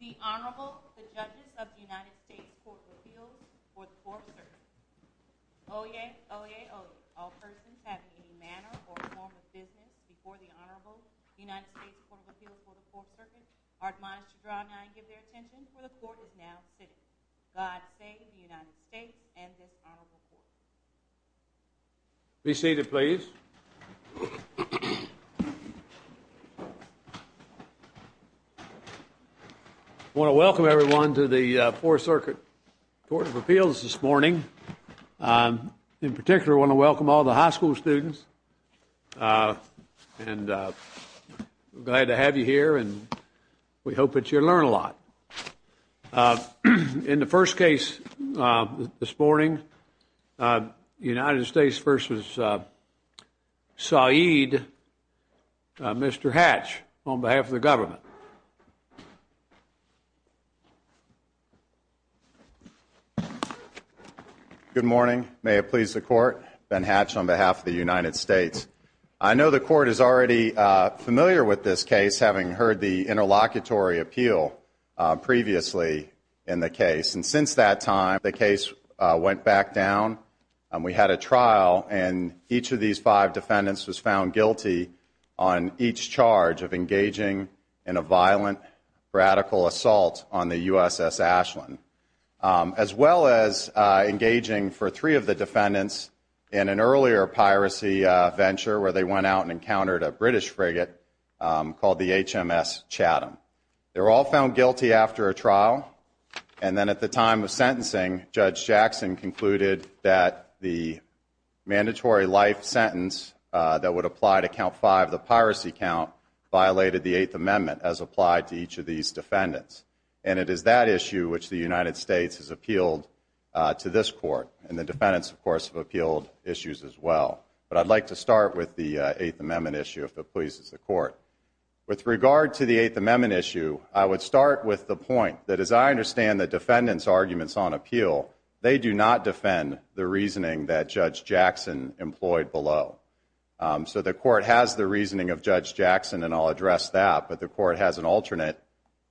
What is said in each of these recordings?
The Honorable, the Judges of the United States Court of Appeals for the Fourth Circuit, Oyez, Oyez, Oyez. All persons having any manner or form of business before the Honorable United States Court of Appeals for the Fourth Circuit are admonished to draw nigh and give their attention for the Court is now sitting. God save the United States and this Honorable Court. Be seated, please. I want to welcome everyone to the Fourth Circuit Court of Appeals this morning. In particular, I want to welcome all the high school students. And we're glad to have you here and we hope that you'll learn a lot. In the first case this morning, United States v. Said, Mr. Hatch, on behalf of the government. Good morning. May it please the Court. Ben Hatch on behalf of the United States. I know the Court is already familiar with this case, having heard the interlocutory appeal previously in the case. And since that time, the case went back down. We had a trial and each of these five defendants was found guilty on each charge of engaging in a violent, radical assault on the USS Ashland. As well as engaging for three of the defendants in an earlier piracy venture where they went out and encountered a British frigate called the HMS Chatham. They were all found guilty after a trial. And then at the time of sentencing, Judge Jackson concluded that the mandatory life amendment as applied to each of these defendants. And it is that issue which the United States has appealed to this Court. And the defendants, of course, have appealed issues as well. But I'd like to start with the Eighth Amendment issue, if it pleases the Court. With regard to the Eighth Amendment issue, I would start with the point that as I understand the defendants' arguments on appeal, they do not defend the reasoning that Judge Jackson employed below. So the Court has the reasoning of Judge Jackson and I'll address that. But the Court has an alternate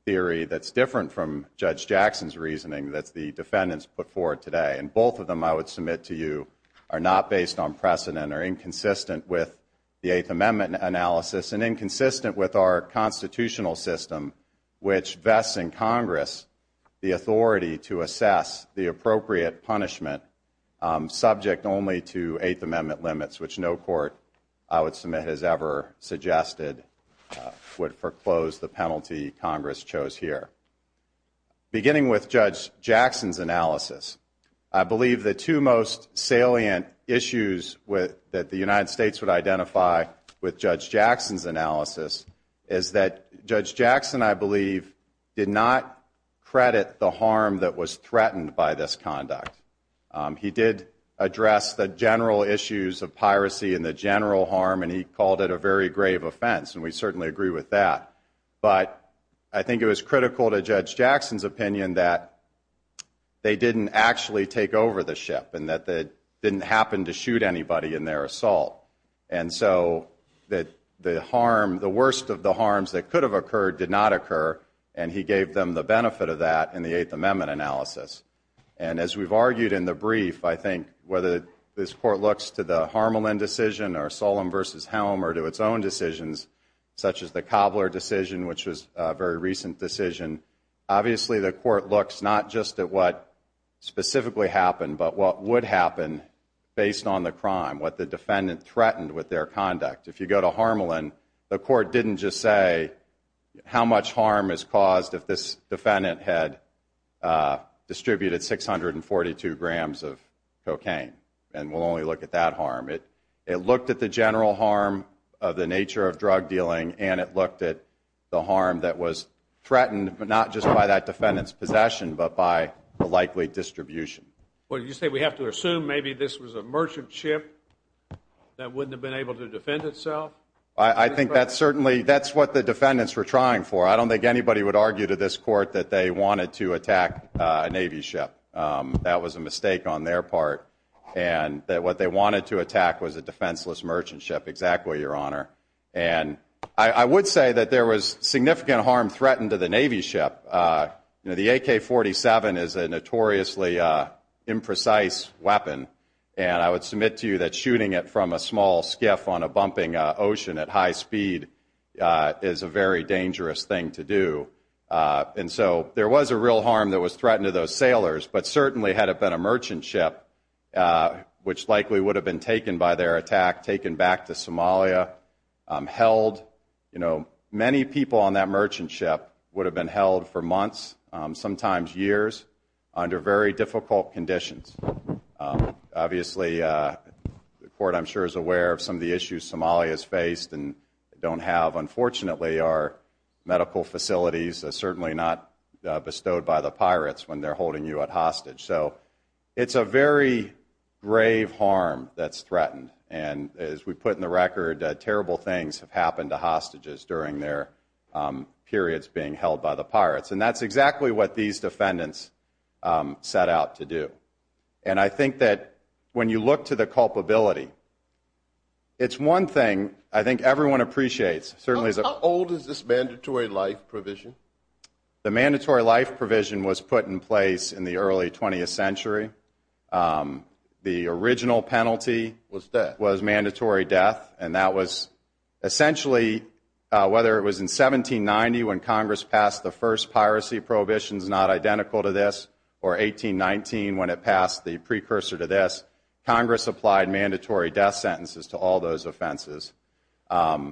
theory that's different from Judge Jackson's reasoning that the defendants put forward today. And both of them, I would submit to you, are not based on precedent or inconsistent with the Eighth Amendment analysis and inconsistent with our constitutional system which vests in Congress the authority to assess the appropriate punishment subject only to Eighth Amendment limits, which no Court, I would submit, has ever suggested would foreclose the penalty Congress chose here. Beginning with Judge Jackson's analysis, I believe the two most salient issues that the United States would identify with Judge Jackson's analysis is that Judge Jackson, I believe, did not credit the harm that was threatened by this conduct. He did address the general issues of piracy and the general harm and he called it a very grave offense and we certainly agree with that. But I think it was critical to Judge Jackson's opinion that they didn't actually take over the ship and that they didn't happen to shoot anybody in their assault. And so the harm, the worst of the harms that could have occurred did not occur and he gave them the benefit of that in the Eighth Amendment analysis. And as we've argued in the brief, I think whether this Court looks to the Harmelin decision or Solemn v. Helm or to its own decisions, such as the Cobbler decision, which was a very recent decision, obviously the Court looks not just at what specifically happened but what would happen based on the crime, what the defendant threatened with their conduct. If you go to Harmelin, the Court didn't just say how much harm is caused if this defendant had distributed 642 grams of cocaine. And we'll only look at that harm. It looked at the general harm of the nature of drug dealing and it looked at the harm that was threatened not just by that defendant's possession but by the likely distribution. Well, you say we have to assume maybe this was a merchant ship that wouldn't have been able to defend itself? I think that's certainly, that's what the defendants were trying for. I don't think anybody would argue to this Court that they wanted to attack a Navy ship. That was a mistake on their part. And that what they wanted to attack was a defenseless merchant ship, exactly, Your Honor. And I would say that there was significant harm threatened to the Navy ship. The AK-47 is a notoriously imprecise weapon. And I would submit to you that shooting it from a small skiff on a bumping ocean at high speed is a very dangerous thing to do. And so there was a real harm that was threatened to those sailors. But certainly had it been a merchant ship, which likely would have been taken by their attack, taken back to Somalia, held, you know, many people on that merchant ship would have been held for months, sometimes years, under very difficult conditions. Obviously, the Court, I'm sure, is aware of some of the issues Somalia has faced and don't have. Unfortunately, our medical facilities are certainly not bestowed by the pirates when they're holding you hostage. So it's a very grave harm that's threatened. And as we put in the record, terrible things have happened to hostages during their periods being held by the pirates. And that's exactly what these defendants set out to do. And I think that when you look to the culpability, it's one thing I think everyone appreciates. How old is this mandatory life provision? The mandatory life provision was put in place in the early 20th century. The original penalty was mandatory death. And that was essentially, whether it was in 1790 when Congress passed the first piracy prohibitions, not identical to this, or 1819 when it passed the precursor to this, Congress applied mandatory death sentences to all those offenses. Did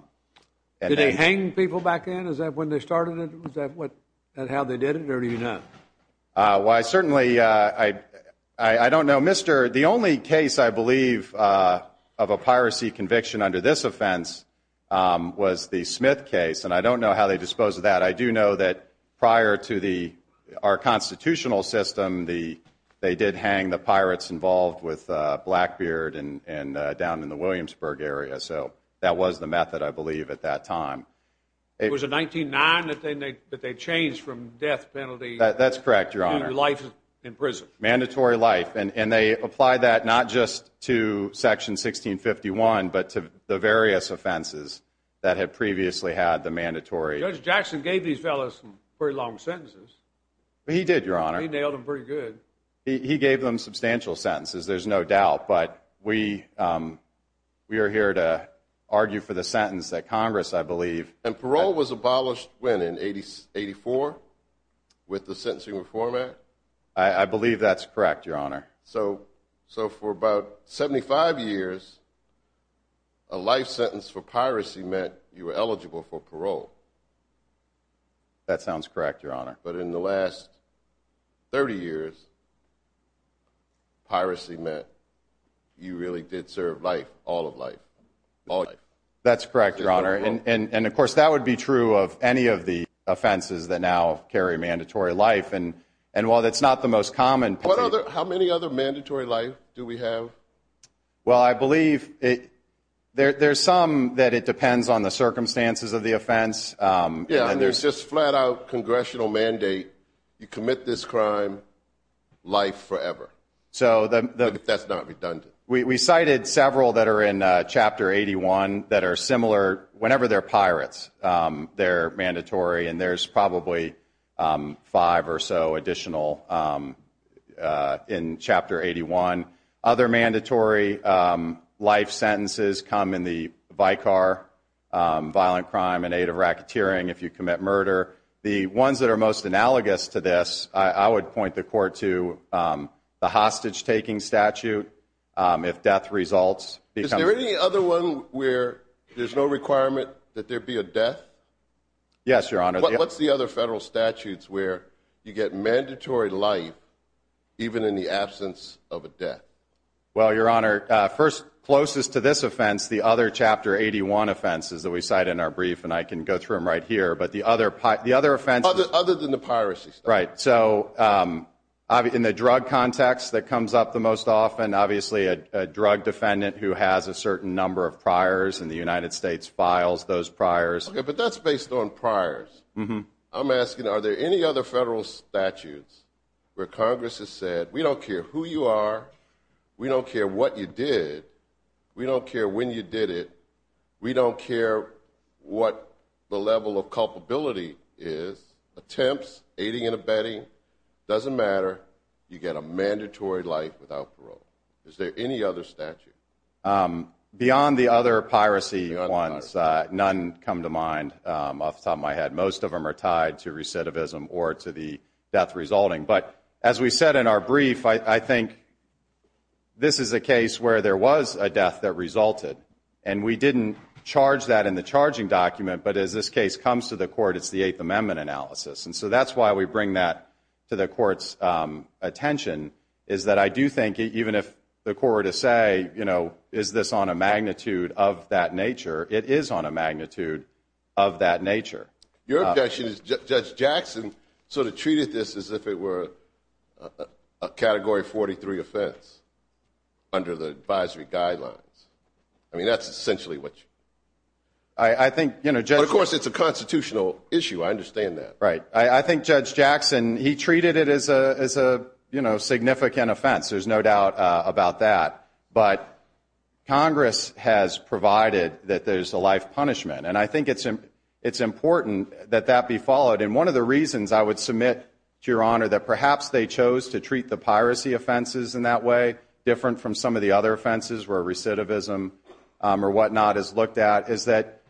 they hang people back then? Is that when they started it? Is that how they did it, or do you know? Well, I certainly, I don't know. The only case, I believe, of a piracy conviction under this offense was the Smith case, and I don't know how they disposed of that. I do know that prior to our constitutional system, they did hang the pirates involved with Blackbeard down in the Williamsburg area. So that was the method, I believe, at that time. It was in 1909 that they changed from death penalty to life in prison. That's correct, Your Honor. Mandatory life, and they applied that not just to Section 1651, but to the various offenses that had previously had the mandatory. Judge Jackson gave these fellows some pretty long sentences. He did, Your Honor. He nailed them pretty good. He gave them substantial sentences, there's no doubt. But we are here to argue for the sentence that Congress, I believe. And parole was abolished when, in 1884, with the Sentencing Reform Act? I believe that's correct, Your Honor. So for about 75 years, a life sentence for piracy meant you were eligible for parole. That sounds correct, Your Honor. But in the last 30 years, piracy meant you really did serve life, all of life. That's correct, Your Honor. And, of course, that would be true of any of the offenses that now carry mandatory life. And while that's not the most common penalty. How many other mandatory life do we have? Well, I believe there's some that it depends on the circumstances of the offense. Yeah, and there's just flat-out congressional mandate, you commit this crime, life forever. But that's not redundant. We cited several that are in Chapter 81 that are similar. Whenever they're pirates, they're mandatory. And there's probably five or so additional in Chapter 81. Other mandatory life sentences come in the Vicar violent crime and aid of racketeering if you commit murder. The ones that are most analogous to this, I would point the Court to the hostage-taking statute if death results. Is there any other one where there's no requirement that there be a death? Yes, Your Honor. What's the other federal statutes where you get mandatory life even in the absence of a death? Well, Your Honor, closest to this offense, the other Chapter 81 offenses that we cite in our brief, and I can go through them right here, but the other offenses. Other than the piracy stuff. Right. So in the drug context that comes up the most often, obviously a drug defendant who has a certain number of priors in the United States files those priors. Okay, but that's based on priors. I'm asking are there any other federal statutes where Congress has said, we don't care who you are, we don't care what you did, we don't care when you did it, we don't care what the level of culpability is, attempts, aiding and abetting, doesn't matter, you get a mandatory life without parole. Is there any other statute? Beyond the other piracy ones, none come to mind off the top of my head. Most of them are tied to recidivism or to the death resulting. But as we said in our brief, I think this is a case where there was a death that resulted, and we didn't charge that in the charging document, but as this case comes to the court, it's the Eighth Amendment analysis. And so that's why we bring that to the court's attention, is that I do think even if the court were to say, you know, is this on a magnitude of that nature, it is on a magnitude of that nature. Your objection is Judge Jackson sort of treated this as if it were a Category 43 offense under the advisory guidelines. I mean, that's essentially what you're saying. But, of course, it's a constitutional issue. I understand that. Right. I think Judge Jackson, he treated it as a significant offense. There's no doubt about that. But Congress has provided that there's a life punishment, and I think it's important that that be followed. And one of the reasons I would submit to Your Honor that perhaps they chose to treat the piracy offenses in that way, different from some of the other offenses where recidivism or whatnot is looked at, is that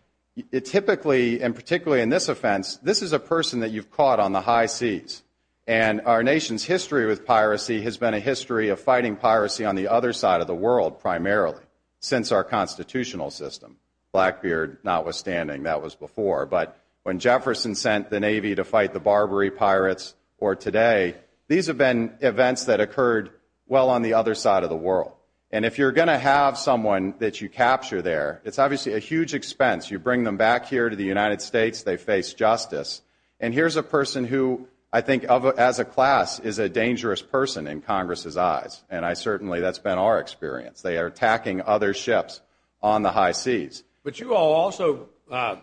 it typically, and particularly in this offense, this is a person that you've caught on the high seas. And our nation's history with piracy has been a history of fighting piracy on the other side of the world, primarily, since our constitutional system, Blackbeard notwithstanding. That was before. But when Jefferson sent the Navy to fight the Barbary pirates, or today, these have been events that occurred well on the other side of the world. And if you're going to have someone that you capture there, it's obviously a huge expense. You bring them back here to the United States, they face justice. And here's a person who I think, as a class, is a dangerous person in Congress's eyes. And I certainly, that's been our experience. They are attacking other ships on the high seas. But you all also,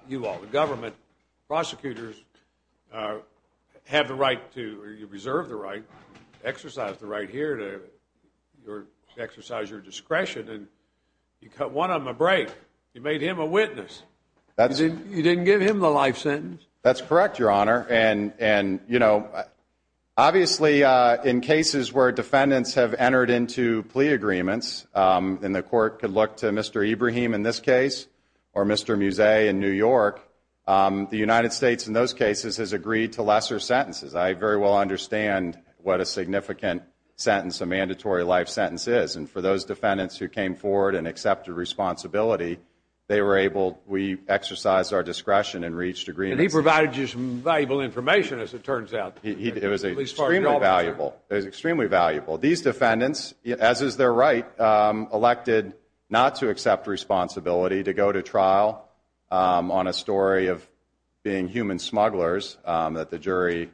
you all, the government, prosecutors, have the right to, or you reserve the right, exercise the right here to exercise your discretion. And you cut one of them a break. You made him a witness. You didn't give him the life sentence. That's correct, Your Honor. And, you know, obviously in cases where defendants have entered into plea agreements, and the court could look to Mr. Ibrahim in this case, or Mr. Musse in New York, the United States in those cases has agreed to lesser sentences. I very well understand what a significant sentence, a mandatory life sentence is. And for those defendants who came forward and accepted responsibility, they were able, we exercised our discretion and reached agreements. And he provided you some valuable information, as it turns out. It was extremely valuable. It was extremely valuable. These defendants, as is their right, elected not to accept responsibility, to go to trial on a story of being human smugglers that the jury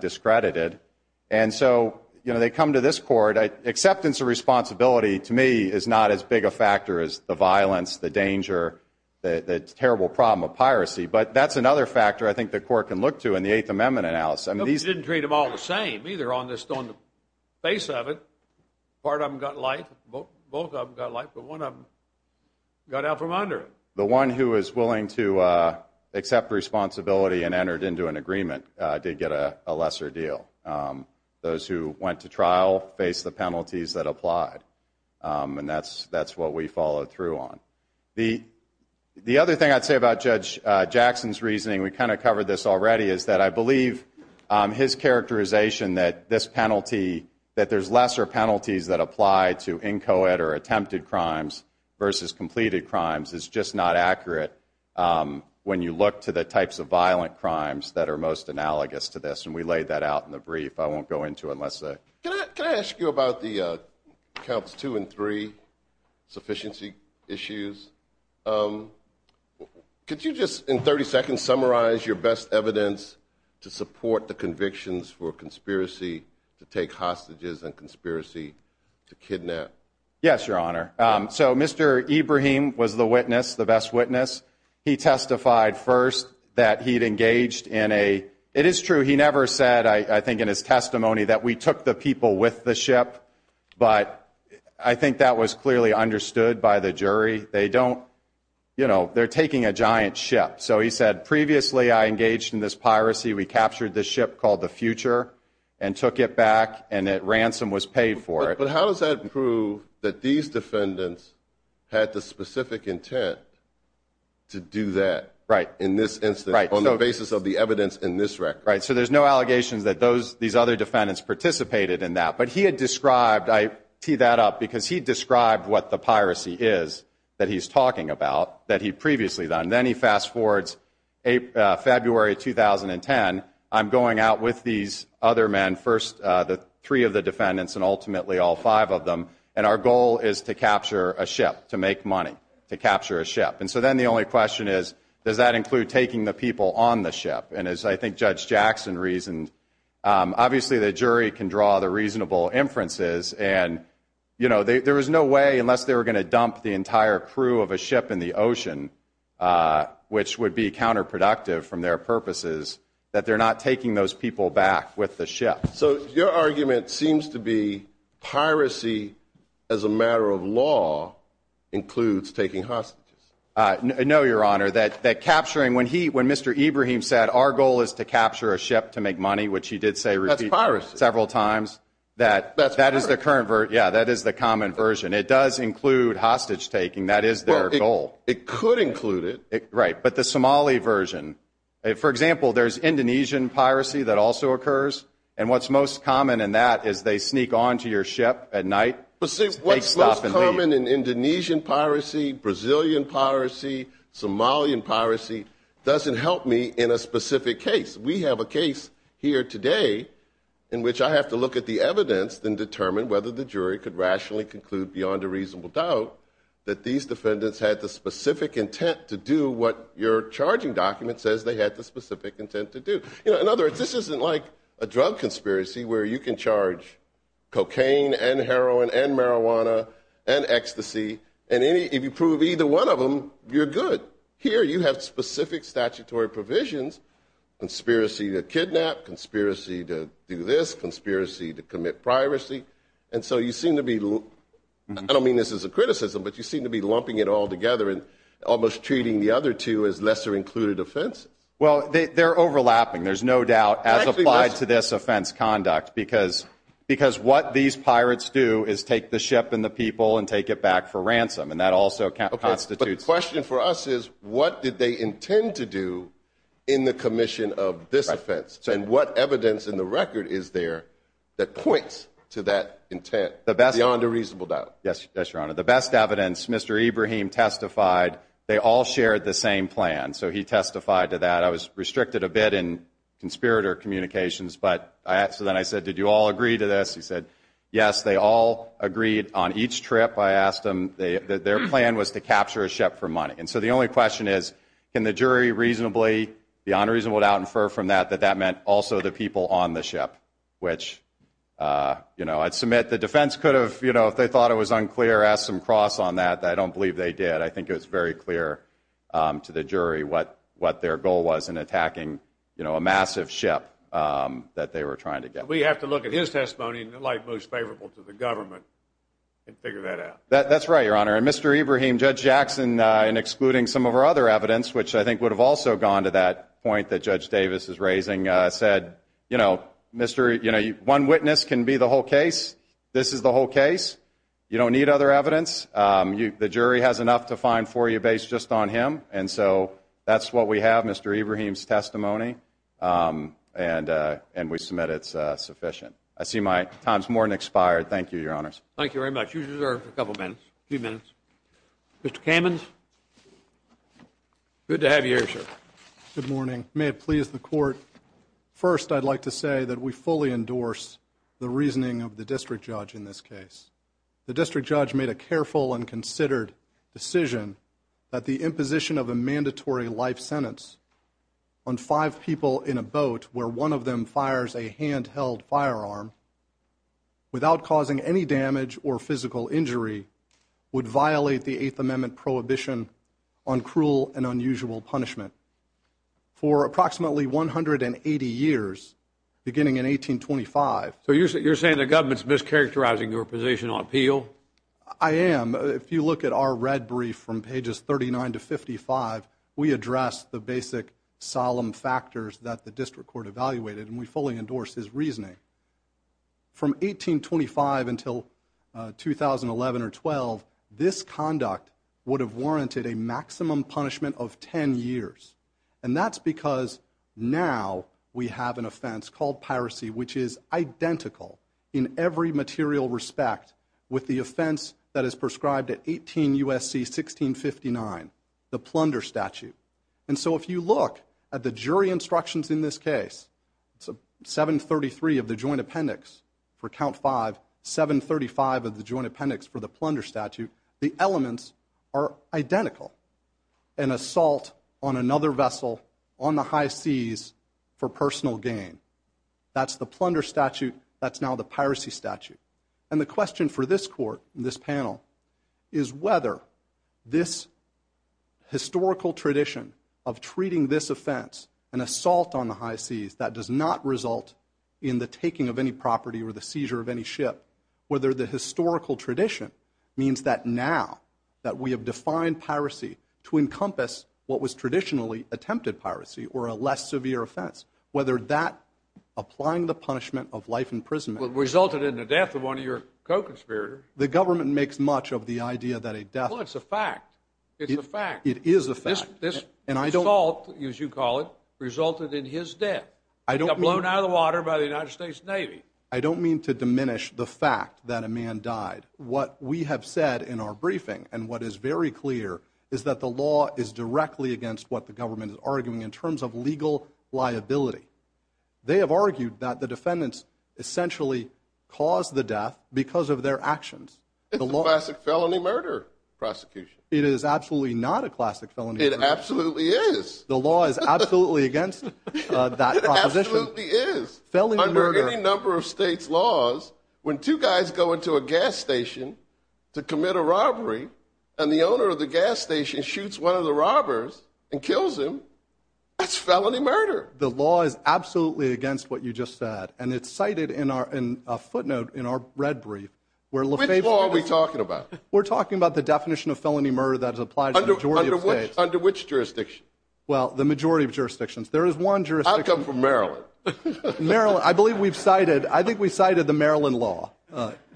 discredited. And so, you know, they come to this court. Acceptance of responsibility to me is not as big a factor as the violence, the danger, the terrible problem of piracy. But that's another factor I think the court can look to in the Eighth Amendment analysis. They didn't treat them all the same either on the face of it. Part of them got life. Both of them got life. But one of them got out from under it. The one who was willing to accept responsibility and entered into an agreement did get a lesser deal. Those who went to trial faced the penalties that applied. And that's what we followed through on. The other thing I'd say about Judge Jackson's reasoning, we kind of covered this already, is that I believe his characterization that this penalty, that there's lesser penalties that apply to inchoate or attempted crimes versus completed crimes, is just not accurate when you look to the types of violent crimes that are most analogous to this. And we laid that out in the brief. I won't go into it unless. Can I ask you about the counts two and three, sufficiency issues? Could you just, in 30 seconds, summarize your best evidence to support the convictions for conspiracy to take hostages and conspiracy to kidnap? Yes, Your Honor. So Mr. Ibrahim was the witness, the best witness. He testified first that he'd engaged in a, it is true, he never said, I think, in his testimony that we took the people with the ship. But I think that was clearly understood by the jury. They don't, you know, they're taking a giant ship. So he said, previously I engaged in this piracy. We captured the ship called the Future and took it back and that ransom was paid for it. But how does that prove that these defendants had the specific intent to do that? Right. In this instance, on the basis of the evidence in this record. Right. So there's no allegations that those, these other defendants participated in that. But he had described, I tee that up, because he described what the piracy is that he's talking about that he'd previously done. Then he fast forwards February 2010, I'm going out with these other men, first the three of the defendants and ultimately all five of them, and our goal is to capture a ship, to make money, to capture a ship. And so then the only question is, does that include taking the people on the ship? And as I think Judge Jackson reasoned, obviously the jury can draw the reasonable inferences. And, you know, there is no way, unless they were going to dump the entire crew of a ship in the ocean, which would be counterproductive from their purposes, that they're not taking those people back with the ship. So your argument seems to be piracy as a matter of law includes taking hostages. No, Your Honor. That capturing, when he, when Mr. Ibrahim said our goal is to capture a ship to make money, which he did say several times, that that is the current, yeah, that is the common version. It does include hostage taking. That is their goal. It could include it. Right. But the Somali version, for example, there's Indonesian piracy that also occurs. And what's most common in that is they sneak onto your ship at night. What's most common in Indonesian piracy, Brazilian piracy, Somalian piracy doesn't help me in a specific case. We have a case here today in which I have to look at the evidence and determine whether the jury could rationally conclude, beyond a reasonable doubt, that these defendants had the specific intent to do what your charging document says they had the specific intent to do. In other words, this isn't like a drug conspiracy where you can charge cocaine and heroin and marijuana and ecstasy, and if you prove either one of them, you're good. Here you have specific statutory provisions, conspiracy to kidnap, conspiracy to do this, conspiracy to commit piracy. And so you seem to be, I don't mean this as a criticism, but you seem to be lumping it all together and almost treating the other two as lesser included offenses. Well, they're overlapping. There's no doubt as applied to this offense conduct because what these pirates do is take the ship and the people and take it back for ransom. And that also constitutes. The question for us is, what did they intend to do in the commission of this offense? And what evidence in the record is there that points to that intent beyond a reasonable doubt? Yes, Your Honor. The best evidence, Mr. Ibrahim testified they all shared the same plan. So he testified to that. I was restricted a bit in conspirator communications, but so then I said, did you all agree to this? He said, yes, they all agreed on each trip. I asked them, their plan was to capture a ship for money. And so the only question is, can the jury reasonably, beyond a reasonable doubt, infer from that that that meant also the people on the ship, which, you know, I'd submit the defense could have, you know, if they thought it was unclear, asked some cross on that. I don't believe they did. I think it was very clear to the jury what what their goal was in attacking, you know, a massive ship that they were trying to get. We have to look at his testimony like most favorable to the government and figure that out. That's right, Your Honor. And Mr. Ibrahim, Judge Jackson, in excluding some of our other evidence, which I think would have also gone to that point that Judge Davis is raising, said, you know, Mr. You know, one witness can be the whole case. This is the whole case. You don't need other evidence. The jury has enough to find for you based just on him. And so that's what we have, Mr. Ibrahim's testimony. And we submit it's sufficient. I see my time's more than expired. Thank you, Your Honors. Thank you very much. You deserve a couple of minutes. A few minutes. Mr. Kamens. Good to have you here, sir. Good morning. May it please the court. First, I'd like to say that we fully endorse the reasoning of the district judge in this case. The district judge made a careful and considered decision that the imposition of a mandatory life sentence on five people in a boat where one of them fires a handheld firearm without causing any damage or physical injury would violate the Eighth Amendment prohibition on cruel and unusual punishment for approximately 180 years, beginning in 1825. So you're saying the government's mischaracterizing your position on appeal? I am. If you look at our red brief from pages 39 to 55, we address the basic solemn factors that the district court evaluated, and we fully endorse his reasoning. From 1825 until 2011 or 12, this conduct would have warranted a maximum punishment of 10 years. And that's because now we have an offense called piracy, which is identical in every material respect with the offense that is prescribed at 18 U.S.C. 1659, the plunder statute. And so if you look at the jury instructions in this case, 733 of the joint appendix for count five, 735 of the joint appendix for the plunder statute, the elements are identical. An assault on another vessel on the high seas for personal gain. That's the plunder statute. That's now the piracy statute. And the question for this court, this panel, is whether this historical tradition of treating this offense, an assault on the high seas that does not result in the taking of any property or the seizure of any ship, whether the historical tradition means that now that we have defined piracy to encompass what was traditionally attempted piracy or a less severe offense, whether that applying the punishment of life imprisonment. Resulted in the death of one of your co-conspirators. The government makes much of the idea that a death. Well, it's a fact. It's a fact. It is a fact. This assault, as you call it, resulted in his death. He got blown out of the water by the United States Navy. I don't mean to diminish the fact that a man died. What we have said in our briefing and what is very clear is that the law is directly against what the government is arguing in terms of legal liability. They have argued that the defendants essentially caused the death because of their actions. It's a classic felony murder prosecution. It is absolutely not a classic felony murder. It absolutely is. The law is absolutely against that proposition. It absolutely is. Under any number of states' laws, when two guys go into a gas station to commit a robbery and the owner of the gas station shoots one of the robbers and kills him, that's felony murder. The law is absolutely against what you just said, and it's cited in a footnote in our red brief. Which law are we talking about? We're talking about the definition of felony murder that applies to the majority of states. Under which jurisdiction? Well, the majority of jurisdictions. There is one jurisdiction. I come from Maryland. Maryland. I believe we've cited, I think we cited the Maryland law,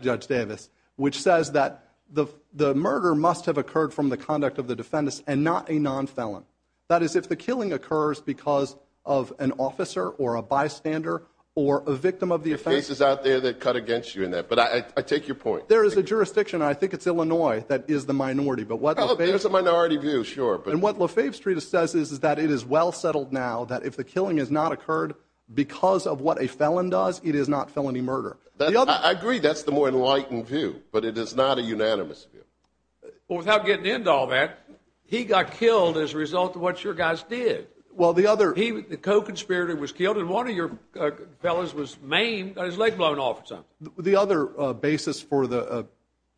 Judge Davis, which says that the murder must have occurred from the conduct of the defendants and not a non-felon. That is, if the killing occurs because of an officer or a bystander or a victim of the offense. There are cases out there that cut against you in that, but I take your point. There is a jurisdiction, and I think it's Illinois, that is the minority. Oh, there's a minority view, sure. And what LaFave Street says is that it is well settled now that if the killing has not occurred because of what a felon does, it is not felony murder. I agree that's the more enlightened view, but it is not a unanimous view. Well, without getting into all that, he got killed as a result of what your guys did. Well, the other – He, the co-conspirator, was killed, and one of your fellas was maimed, got his leg blown off. The other basis for the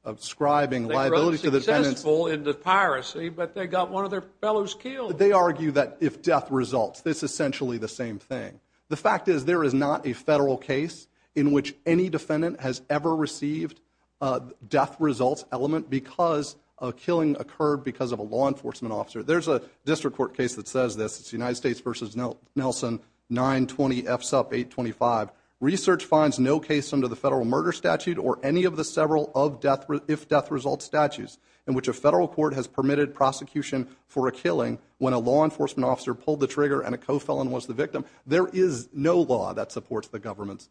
ascribing liability to the defendants – They argue that if death results. It's essentially the same thing. The fact is there is not a federal case in which any defendant has ever received a death results element because a killing occurred because of a law enforcement officer. There's a district court case that says this. It's United States v. Nelson, 920 F SUP 825. Research finds no case under the federal murder statute or any of the several of death – in which a federal court has permitted prosecution for a killing when a law enforcement officer pulled the trigger and a co-felon was the victim. There is no law that supports the government's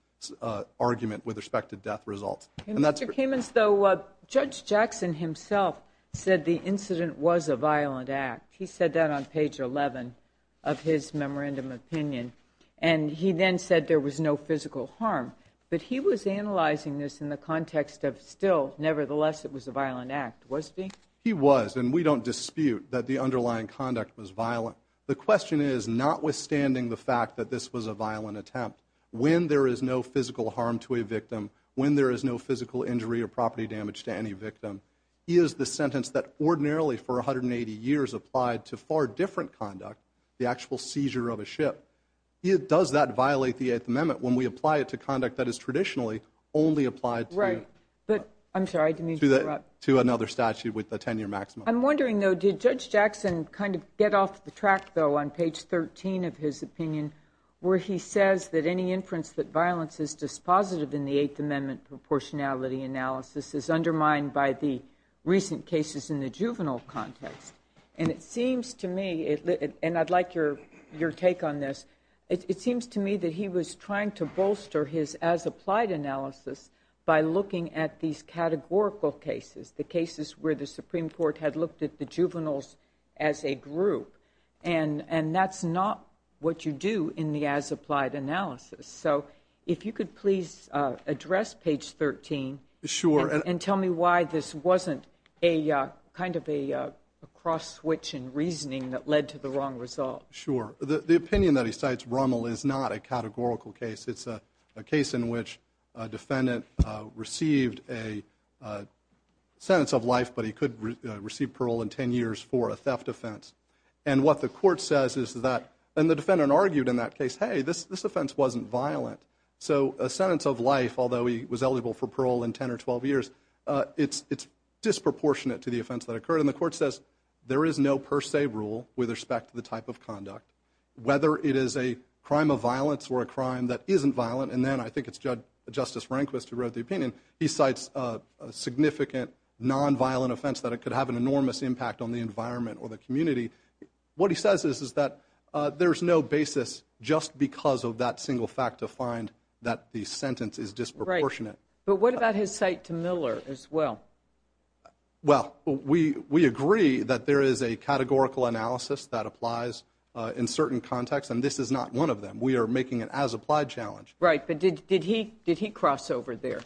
argument with respect to death results. Mr. Kamens, though, Judge Jackson himself said the incident was a violent act. He said that on page 11 of his memorandum opinion, and he then said there was no physical harm. But he was analyzing this in the context of still, nevertheless, it was a violent act, was he? He was, and we don't dispute that the underlying conduct was violent. The question is, notwithstanding the fact that this was a violent attempt, when there is no physical harm to a victim, when there is no physical injury or property damage to any victim, is the sentence that ordinarily for 180 years applied to far different conduct, the actual seizure of a ship. Does that violate the Eighth Amendment when we apply it to conduct that is traditionally only applied to – Right, but I'm sorry, I didn't mean to interrupt. To another statute with a 10-year maximum. I'm wondering, though, did Judge Jackson kind of get off the track, though, on page 13 of his opinion, where he says that any inference that violence is dispositive in the Eighth Amendment proportionality analysis is undermined by the recent cases in the juvenile context. And it seems to me, and I'd like your take on this, it seems to me that he was trying to bolster his as-applied analysis by looking at these categorical cases, the cases where the Supreme Court had looked at the juveniles as a group. And that's not what you do in the as-applied analysis. So if you could please address page 13. Sure. And tell me why this wasn't a kind of a cross-switch in reasoning that led to the wrong result. Sure. The opinion that he cites, Rommel, is not a categorical case. It's a case in which a defendant received a sentence of life, but he could receive parole in 10 years for a theft offense. And what the court says is that, and the defendant argued in that case, hey, this offense wasn't violent. So a sentence of life, although he was eligible for parole in 10 or 12 years, it's disproportionate to the offense that occurred. And the court says there is no per se rule with respect to the type of conduct, whether it is a crime of violence or a crime that isn't violent. And then I think it's Justice Rehnquist who wrote the opinion. He cites a significant nonviolent offense that could have an enormous impact on the environment or the community. What he says is that there's no basis just because of that single fact to find that the sentence is disproportionate. Right. But what about his cite to Miller as well? Well, we agree that there is a categorical analysis that applies in certain contexts, and this is not one of them. We are making an as-applied challenge. Right. But did he cross over there?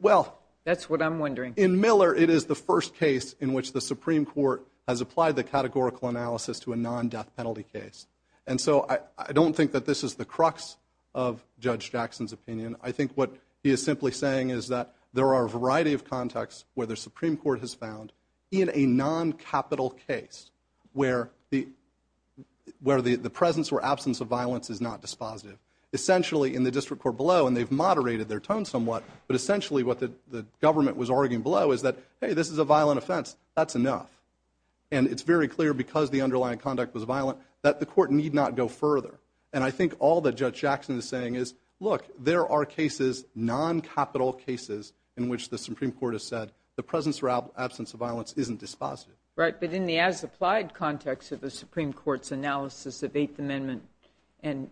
Well. That's what I'm wondering. In Miller, it is the first case in which the Supreme Court has applied the categorical analysis to a non-death penalty case. And so I don't think that this is the crux of Judge Jackson's opinion. I think what he is simply saying is that there are a variety of contexts where the Supreme Court has found in a non-capital case where the presence or absence of violence is not dispositive. Essentially, in the district court below, and they've moderated their tone somewhat, but essentially what the government was arguing below is that, hey, this is a violent offense. That's enough. And it's very clear because the underlying conduct was violent that the court need not go further. And I think all that Judge Jackson is saying is, look, there are cases, non-capital cases, in which the Supreme Court has said the presence or absence of violence isn't dispositive. Right. But in the as-applied context of the Supreme Court's analysis of Eighth Amendment and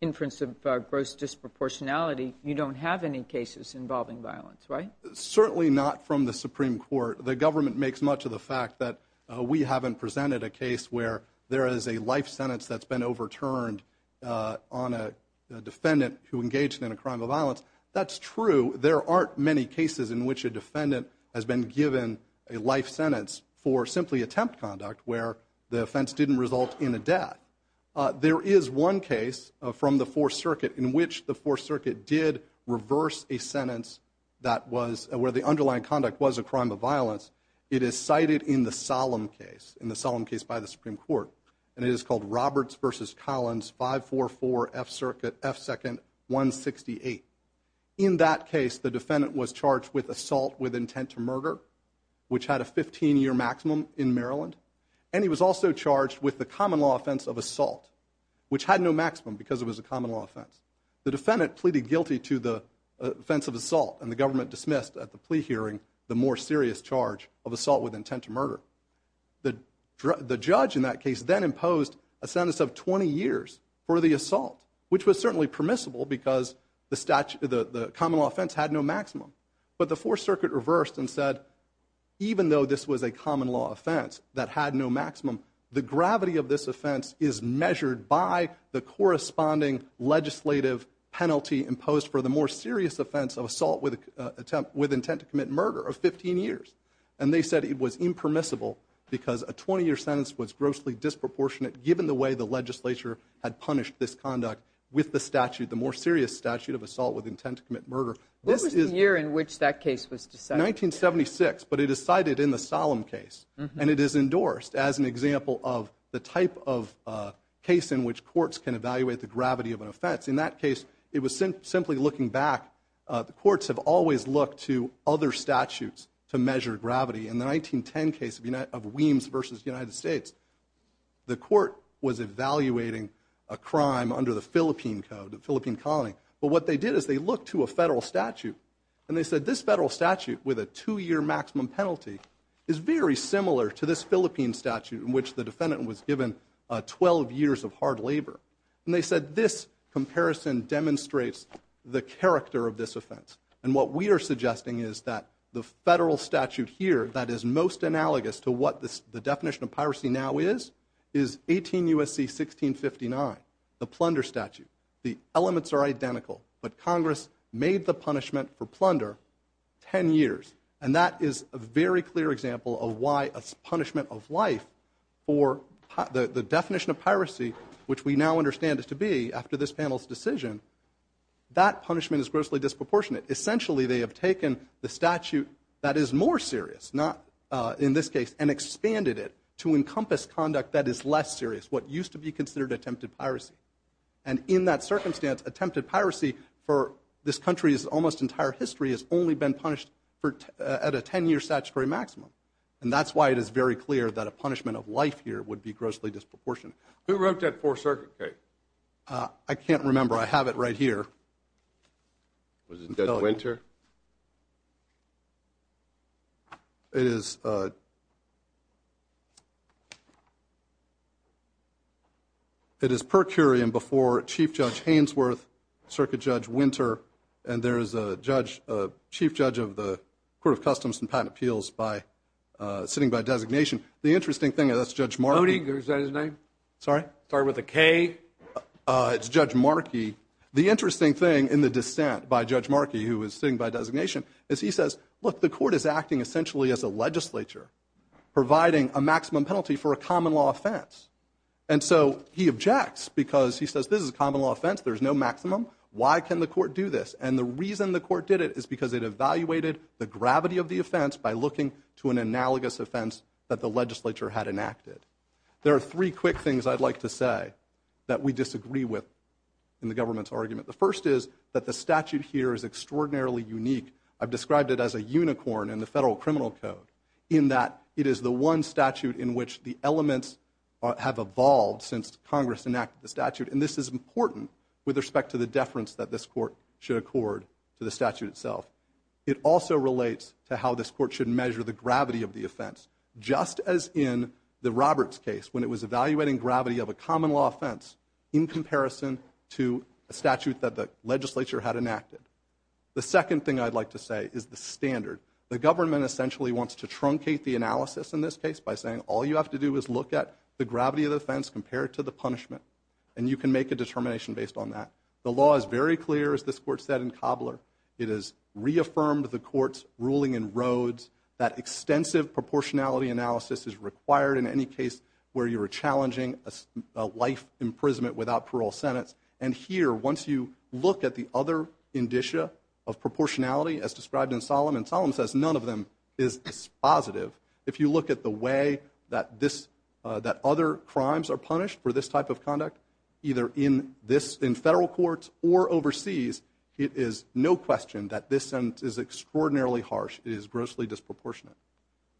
inference of gross disproportionality, you don't have any cases involving violence, right? Certainly not from the Supreme Court. The government makes much of the fact that we haven't presented a case where there is a life sentence that's been overturned on a defendant who engaged in a crime of violence. That's true. There aren't many cases in which a defendant has been given a life sentence for simply attempt conduct where the offense didn't result in a death. There is one case from the Fourth Circuit in which the Fourth Circuit did reverse a sentence that was where the underlying conduct was a crime of violence. It is cited in the Solemn case, in the Solemn case by the Supreme Court. And it is called Roberts v. Collins, 544 F Circuit, F Second, 168. In that case, the defendant was charged with assault with intent to murder, which had a 15-year maximum in Maryland, and he was also charged with the common law offense of assault, which had no maximum because it was a common law offense. The defendant pleaded guilty to the offense of assault, and the government dismissed at the plea hearing the more serious charge of assault with intent to murder. The judge in that case then imposed a sentence of 20 years for the assault, which was certainly permissible because the common law offense had no maximum. But the Fourth Circuit reversed and said, even though this was a common law offense that had no maximum, the gravity of this offense is measured by the corresponding legislative penalty imposed for the more serious offense of assault with intent to commit murder of 15 years. And they said it was impermissible because a 20-year sentence was grossly disproportionate given the way the legislature had punished this conduct with the statute, the more serious statute of assault with intent to commit murder. What was the year in which that case was decided? 1976, but it is cited in the Solemn case, and it is endorsed as an example of the type of case in which courts can evaluate the gravity of an offense. In that case, it was simply looking back. The courts have always looked to other statutes to measure gravity. In the 1910 case of Weems v. United States, the court was evaluating a crime under the Philippine Code, the Philippine colony. But what they did is they looked to a federal statute, and they said this federal statute with a two-year maximum penalty is very similar to this Philippine statute in which the defendant was given 12 years of hard labor. And they said this comparison demonstrates the character of this offense. And what we are suggesting is that the federal statute here that is most analogous to what the definition of piracy now is, is 18 U.S.C. 1659, the plunder statute. The elements are identical, but Congress made the punishment for plunder 10 years. And that is a very clear example of why a punishment of life for the definition of piracy, which we now understand it to be after this panel's decision, that punishment is grossly disproportionate. Essentially, they have taken the statute that is more serious, not in this case, and expanded it to encompass conduct that is less serious, what used to be considered attempted piracy. And in that circumstance, attempted piracy for this country's almost entire history has only been punished at a 10-year statutory maximum. And that's why it is very clear that a punishment of life here would be grossly disproportionate. Who wrote that Fourth Circuit case? I can't remember. I have it right here. Was it Judge Winter? It is per curiam before Chief Judge Hainsworth, Circuit Judge Winter, and there is a Chief Judge of the Court of Customs and Patent Appeals sitting by designation. The interesting thing is that's Judge Markey. Oding, is that his name? Sorry? Sorry, with a K? It's Judge Markey. The interesting thing in the dissent by Judge Markey, who is sitting by designation, is he says, look, the court is acting essentially as a legislature providing a maximum penalty for a common law offense. And so he objects because he says this is a common law offense. There is no maximum. Why can the court do this? And the reason the court did it is because it evaluated the gravity of the offense by looking to an analogous offense that the legislature had enacted. There are three quick things I'd like to say that we disagree with in the government's argument. The first is that the statute here is extraordinarily unique. I've described it as a unicorn in the Federal Criminal Code, in that it is the one statute in which the elements have evolved since Congress enacted the statute, and this is important with respect to the deference that this court should accord to the statute itself. It also relates to how this court should measure the gravity of the offense, just as in the Roberts case when it was evaluating gravity of a common law offense in comparison to a statute that the legislature had enacted. The second thing I'd like to say is the standard. The government essentially wants to truncate the analysis in this case by saying all you have to do is look at the gravity of the offense compared to the punishment, and you can make a determination based on that. The law is very clear, as this court said in Cobbler. It has reaffirmed the court's ruling in Rhodes that extensive proportionality analysis is required in any case where you are challenging a life imprisonment without parole sentence. And here, once you look at the other indicia of proportionality as described in Solemn, and Solemn says none of them is positive. If you look at the way that other crimes are punished for this type of conduct, either in federal courts or overseas, it is no question that this sentence is extraordinarily harsh. It is grossly disproportionate.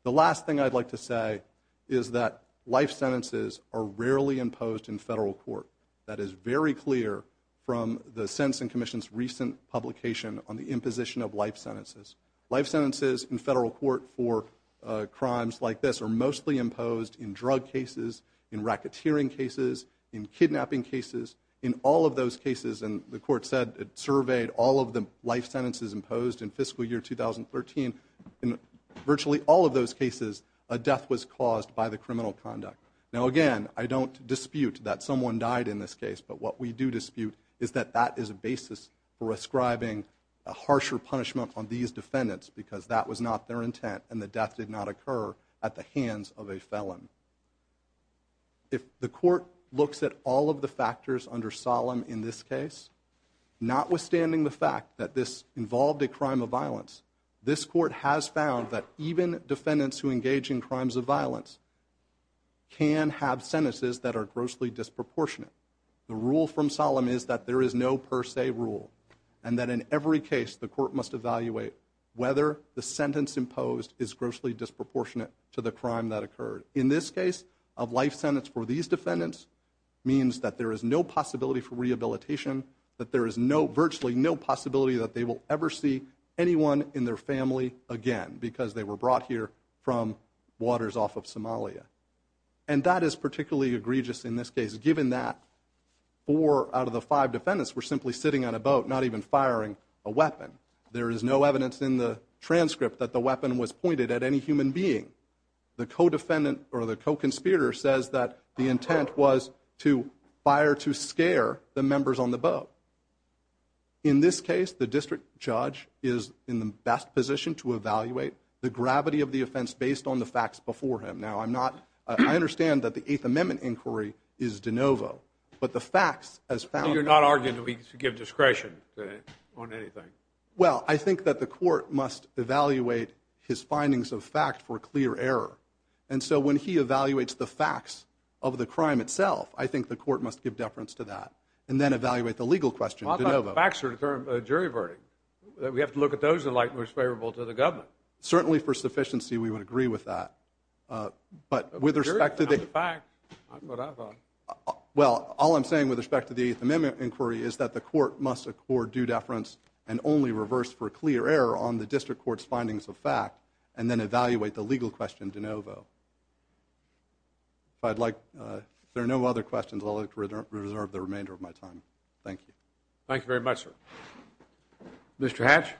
The last thing I'd like to say is that life sentences are rarely imposed in federal court. That is very clear from the Sentencing Commission's recent publication on the imposition of life sentences. Life sentences in federal court for crimes like this are mostly imposed in drug cases, in racketeering cases, in kidnapping cases. In all of those cases, and the court said it surveyed all of the life sentences imposed in fiscal year 2013, in virtually all of those cases, a death was caused by the criminal conduct. Now, again, I don't dispute that someone died in this case, but what we do dispute is that that is a basis for ascribing a harsher punishment on these defendants because that was not their intent and the death did not occur at the hands of a felon. If the court looks at all of the factors under Solemn in this case, notwithstanding the fact that this involved a crime of violence, this court has found that even defendants who engage in crimes of violence can have sentences that are grossly disproportionate. The rule from Solemn is that there is no per se rule, and that in every case the court must evaluate whether the sentence imposed is grossly disproportionate to the crime that occurred. In this case, a life sentence for these defendants means that there is no possibility for rehabilitation, that there is virtually no possibility that they will ever see anyone in their family again because they were brought here from waters off of Somalia. And that is particularly egregious in this case, given that four out of the five defendants were simply sitting on a boat, not even firing a weapon. There is no evidence in the transcript that the weapon was pointed at any human being. The co-defendant or the co-conspirator says that the intent was to fire to scare the members on the boat. In this case, the district judge is in the best position to evaluate the gravity of the offense based on the facts before him. Now, I understand that the Eighth Amendment inquiry is de novo, but the facts as found- So you're not arguing that we should give discretion on anything? Well, I think that the court must evaluate his findings of fact for clear error. And so when he evaluates the facts of the crime itself, I think the court must give deference to that and then evaluate the legal question de novo. Well, I thought the facts were to determine jury verdict. We have to look at those that are most favorable to the government. Certainly for sufficiency, we would agree with that. But with respect to the- The jury found the facts, not what I thought. Well, all I'm saying with respect to the Eighth Amendment inquiry is that the court must accord due deference and only reverse for clear error on the district court's findings of fact and then evaluate the legal question de novo. If there are no other questions, I'll reserve the remainder of my time. Thank you. Thank you very much, sir. Mr. Hatch?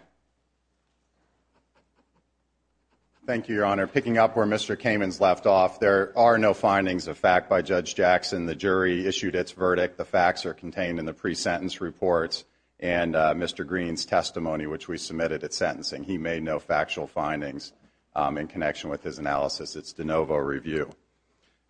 Thank you, Your Honor. Picking up where Mr. Kamen's left off, there are no findings of fact by Judge Jackson. The jury issued its verdict. The facts are contained in the pre-sentence reports and Mr. Green's testimony, which we submitted at sentencing. He made no factual findings in connection with his analysis. It's de novo review.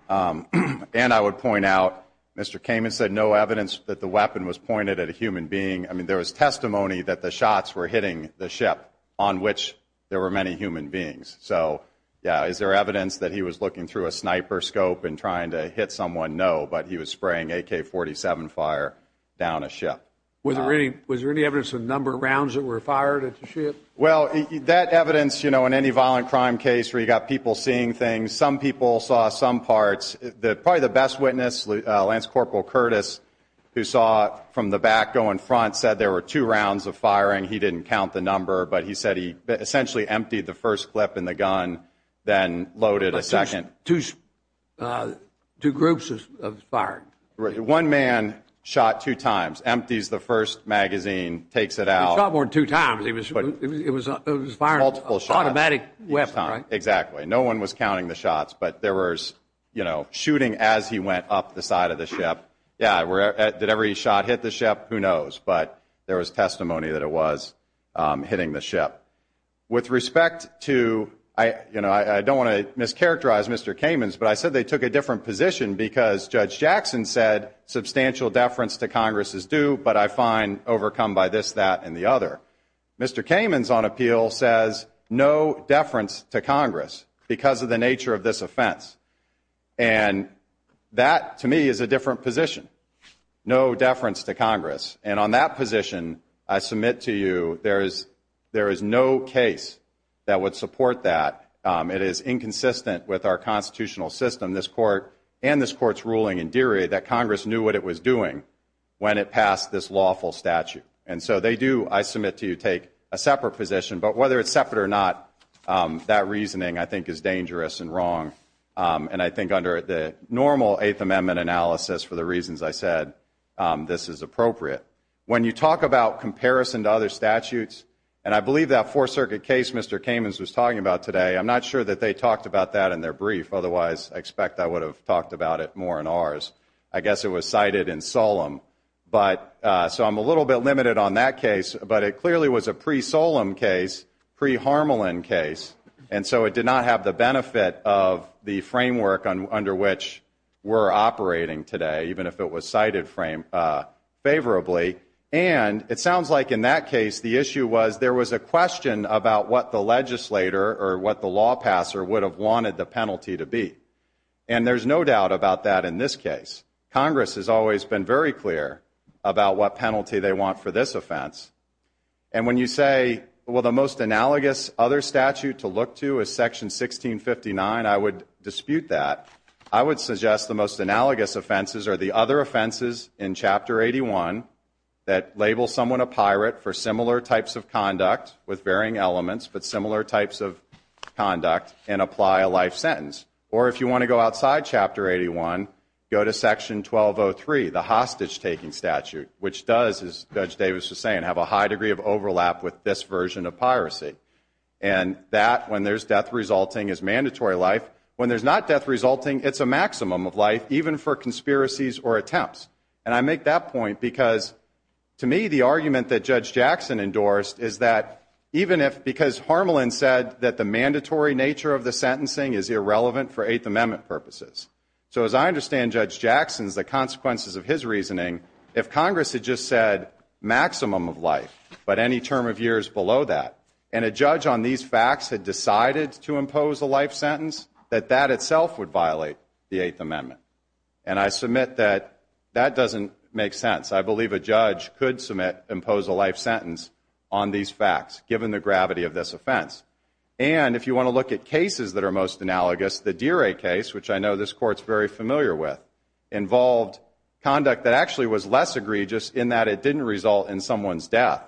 And I would point out, Mr. Kamen said no evidence that the weapon was pointed at a human being. I mean, there was testimony that the shots were hitting the ship on which there were many human beings. So, yeah, is there evidence that he was looking through a sniper scope and trying to hit someone? No, but he was spraying AK-47 fire down a ship. Was there any evidence of the number of rounds that were fired at the ship? Well, that evidence, you know, in any violent crime case where you've got people seeing things, some people saw some parts. Probably the best witness, Lance Corporal Curtis, who saw from the back going front, said there were two rounds of firing. He didn't count the number, but he said he essentially emptied the first clip in the gun, then loaded a second. Two groups of firing. One man shot two times, empties the first magazine, takes it out. He shot more than two times. It was firing an automatic weapon, right? Exactly. No one was counting the shots, but there was, you know, shooting as he went up the side of the ship. Yeah, did every shot hit the ship? Who knows, but there was testimony that it was hitting the ship. With respect to, you know, I don't want to mischaracterize Mr. Kamens, but I said they took a different position because Judge Jackson said substantial deference to Congress is due, but I find overcome by this, that, and the other. Mr. Kamens, on appeal, says no deference to Congress because of the nature of this offense. And that, to me, is a different position. No deference to Congress. And on that position, I submit to you there is no case that would support that. It is inconsistent with our constitutional system, this Court and this Court's ruling in Derry, that Congress knew what it was doing when it passed this lawful statute. And so they do, I submit to you, take a separate position. But whether it's separate or not, that reasoning, I think, is dangerous and wrong. And I think under the normal Eighth Amendment analysis, for the reasons I said, this is appropriate. When you talk about comparison to other statutes, and I believe that Fourth Circuit case Mr. Kamens was talking about today, I'm not sure that they talked about that in their brief, otherwise I expect I would have talked about it more in ours. I guess it was cited in Solem. So I'm a little bit limited on that case. But it clearly was a pre-Solem case, pre-Harmelin case, and so it did not have the benefit of the framework under which we're operating today, even if it was cited favorably. And it sounds like in that case the issue was there was a question about what the legislator or what the law passer would have wanted the penalty to be. And there's no doubt about that in this case. Congress has always been very clear about what penalty they want for this offense. And when you say, well, the most analogous other statute to look to is Section 1659, I would dispute that. I would suggest the most analogous offenses are the other offenses in Chapter 81 that label someone a pirate for similar types of conduct with varying elements, but similar types of conduct, and apply a life sentence. Or if you want to go outside Chapter 81, go to Section 1203, the hostage-taking statute, which does, as Judge Davis was saying, have a high degree of overlap with this version of piracy. And that, when there's death resulting, is mandatory life. When there's not death resulting, it's a maximum of life, even for conspiracies or attempts. And I make that point because, to me, the argument that Judge Jackson endorsed is that, even if, because Harmelin said that the mandatory nature of the sentencing is irrelevant for Eighth Amendment purposes. So as I understand Judge Jackson's, the consequences of his reasoning, if Congress had just said maximum of life, but any term of years below that, and a judge on these facts had decided to impose a life sentence, that that itself would violate the Eighth Amendment. And I submit that that doesn't make sense. I believe a judge could submit, impose a life sentence on these facts, given the gravity of this offense. And if you want to look at cases that are most analogous, the Deere case, which I know this Court's very familiar with, involved conduct that actually was less egregious in that it didn't result in someone's death.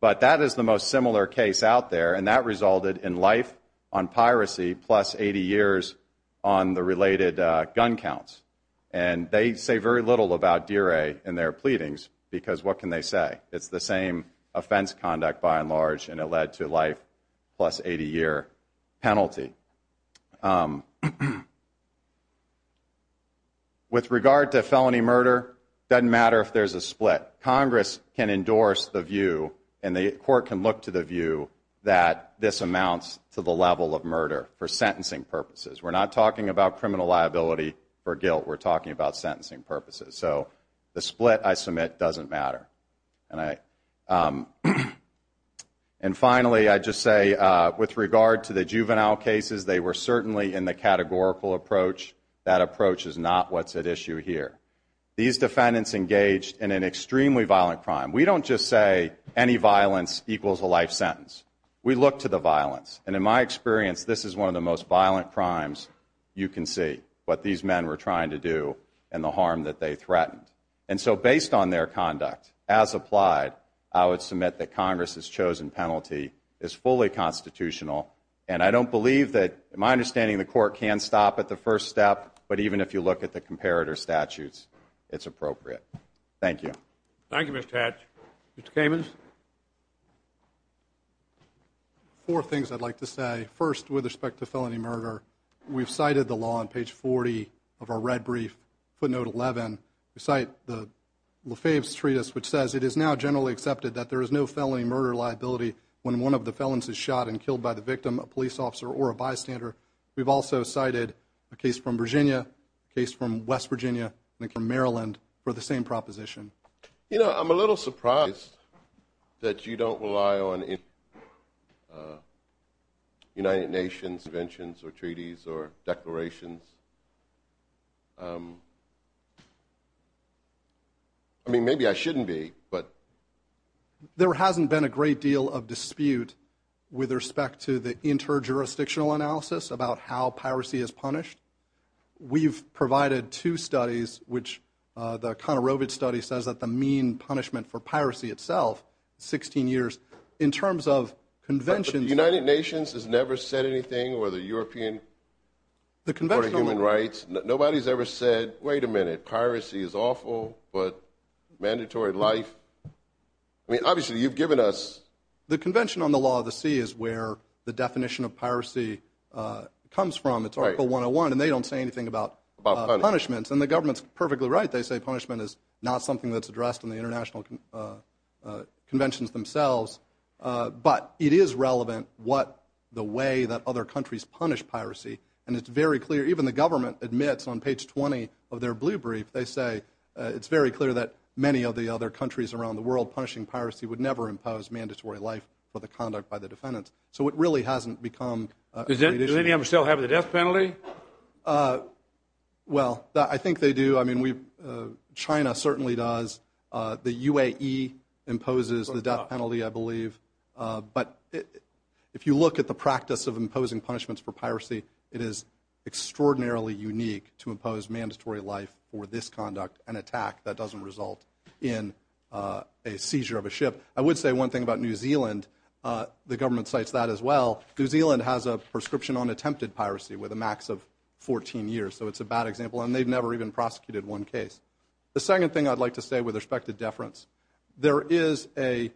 But that is the most similar case out there, and that resulted in life on piracy, plus 80 years on the related gun counts. And they say very little about Deere in their pleadings, because what can they say? It's the same offense conduct, by and large, and it led to life, plus 80-year penalty. With regard to felony murder, doesn't matter if there's a split. Congress can endorse the view, and the Court can look to the view, that this amounts to the level of murder for sentencing purposes. We're not talking about criminal liability for guilt. We're talking about sentencing purposes. So the split, I submit, doesn't matter. And finally, I'd just say, with regard to the juvenile cases, they were certainly in the categorical approach. That approach is not what's at issue here. These defendants engaged in an extremely violent crime. We don't just say any violence equals a life sentence. We look to the violence. And in my experience, this is one of the most violent crimes you can see, what these men were trying to do and the harm that they threatened. And so based on their conduct, as applied, I would submit that Congress's chosen penalty is fully constitutional. And I don't believe that, in my understanding, the Court can stop at the first step, but even if you look at the comparator statutes, it's appropriate. Thank you. Thank you, Mr. Hatch. Mr. Kamens? Four things I'd like to say. First, with respect to felony murder, we've cited the law on page 40 of our red brief, footnote 11. We cite the LaFave's treatise, which says, it is now generally accepted that there is no felony murder liability when one of the felons is shot and killed by the victim, a police officer, or a bystander. We've also cited a case from Virginia, a case from West Virginia, and a case from Maryland for the same proposition. You know, I'm a little surprised that you don't rely on United Nations conventions or treaties or declarations. I mean, maybe I shouldn't be, but. There hasn't been a great deal of dispute with respect to the interjurisdictional analysis about how piracy is punished. We've provided two studies, which the Conorovitch study says that the mean punishment for piracy itself is 16 years. In terms of conventions. The United Nations has never said anything, or the European Court of Human Rights. Nobody's ever said, wait a minute, piracy is awful, but mandatory life. I mean, obviously, you've given us. The Convention on the Law of the Sea is where the definition of piracy comes from. It's Article 101, and they don't say anything about punishments. And the government's perfectly right. They say punishment is not something that's addressed in the international conventions themselves. But it is relevant what the way that other countries punish piracy. And it's very clear, even the government admits on page 20 of their blue brief, they say it's very clear that many of the other countries around the world punishing piracy would never impose mandatory life for the conduct by the defendants. So it really hasn't become. Does any of them still have the death penalty? Well, I think they do. I mean, China certainly does. But if you look at the practice of imposing punishments for piracy, it is extraordinarily unique to impose mandatory life for this conduct, an attack that doesn't result in a seizure of a ship. I would say one thing about New Zealand. The government cites that as well. New Zealand has a prescription on attempted piracy with a max of 14 years. So it's a bad example, and they've never even prosecuted one case. The second thing I'd like to say with respect to deference, there is a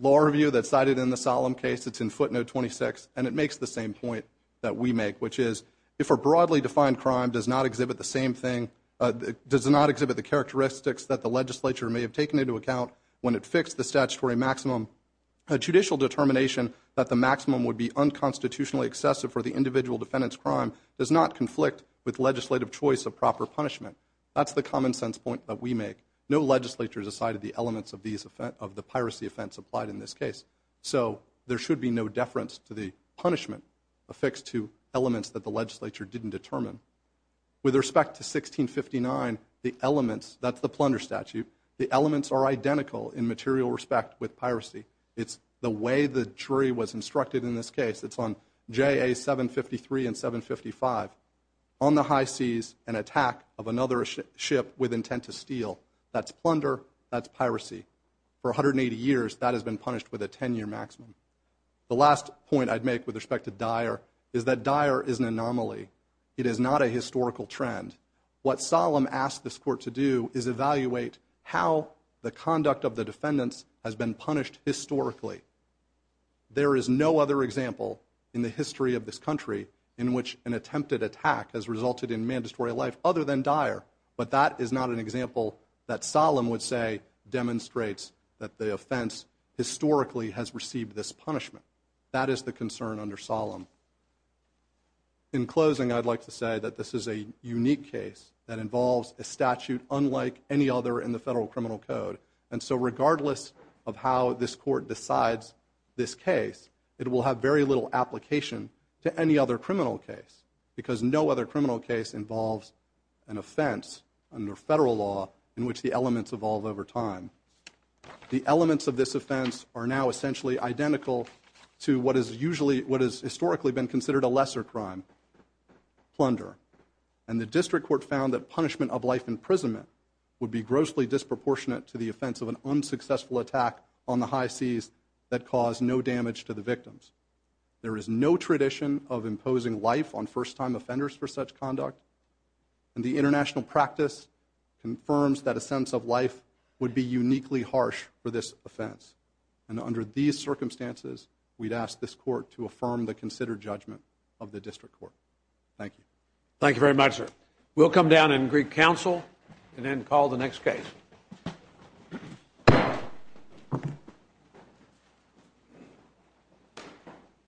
law review that's cited in the solemn case. It's in footnote 26, and it makes the same point that we make, which is if a broadly defined crime does not exhibit the same thing, does not exhibit the characteristics that the legislature may have taken into account when it fixed the statutory maximum, a judicial determination that the maximum would be unconstitutionally excessive for the individual defendant's crime does not conflict with legislative choice of proper punishment. That's the common sense point that we make. No legislature has decided the elements of the piracy offense applied in this case. So there should be no deference to the punishment affixed to elements that the legislature didn't determine. With respect to 1659, the elements, that's the plunder statute, the elements are identical in material respect with piracy. It's the way the jury was instructed in this case. It's on JA 753 and 755. On the high seas, an attack of another ship with intent to steal. That's plunder. That's piracy. For 180 years, that has been punished with a 10-year maximum. The last point I'd make with respect to Dyer is that Dyer is an anomaly. It is not a historical trend. What Solemn asked this court to do is evaluate how the conduct of the defendants has been punished historically. There is no other example in the history of this country in which an attempted attack has resulted in mandatory life other than Dyer. But that is not an example that Solemn would say demonstrates that the offense historically has received this punishment. That is the concern under Solemn. In closing, I'd like to say that this is a unique case that involves a statute unlike any other in the Federal Criminal Code. And so regardless of how this court decides this case, it will have very little application to any other criminal case because no other criminal case involves an offense under Federal law in which the elements evolve over time. The elements of this offense are now essentially identical to what has historically been considered a lesser crime, plunder. And the District Court found that punishment of life imprisonment would be grossly disproportionate to the offense of an unsuccessful attack on the high seas that caused no damage to the victims. There is no tradition of imposing life on first-time offenders for such conduct. And the international practice confirms that a sense of life would be uniquely harsh for this offense. And under these circumstances, we'd ask this court to affirm the considered judgment of the District Court. Thank you. Thank you very much, sir. We'll come down in Greek Council and then call the next case.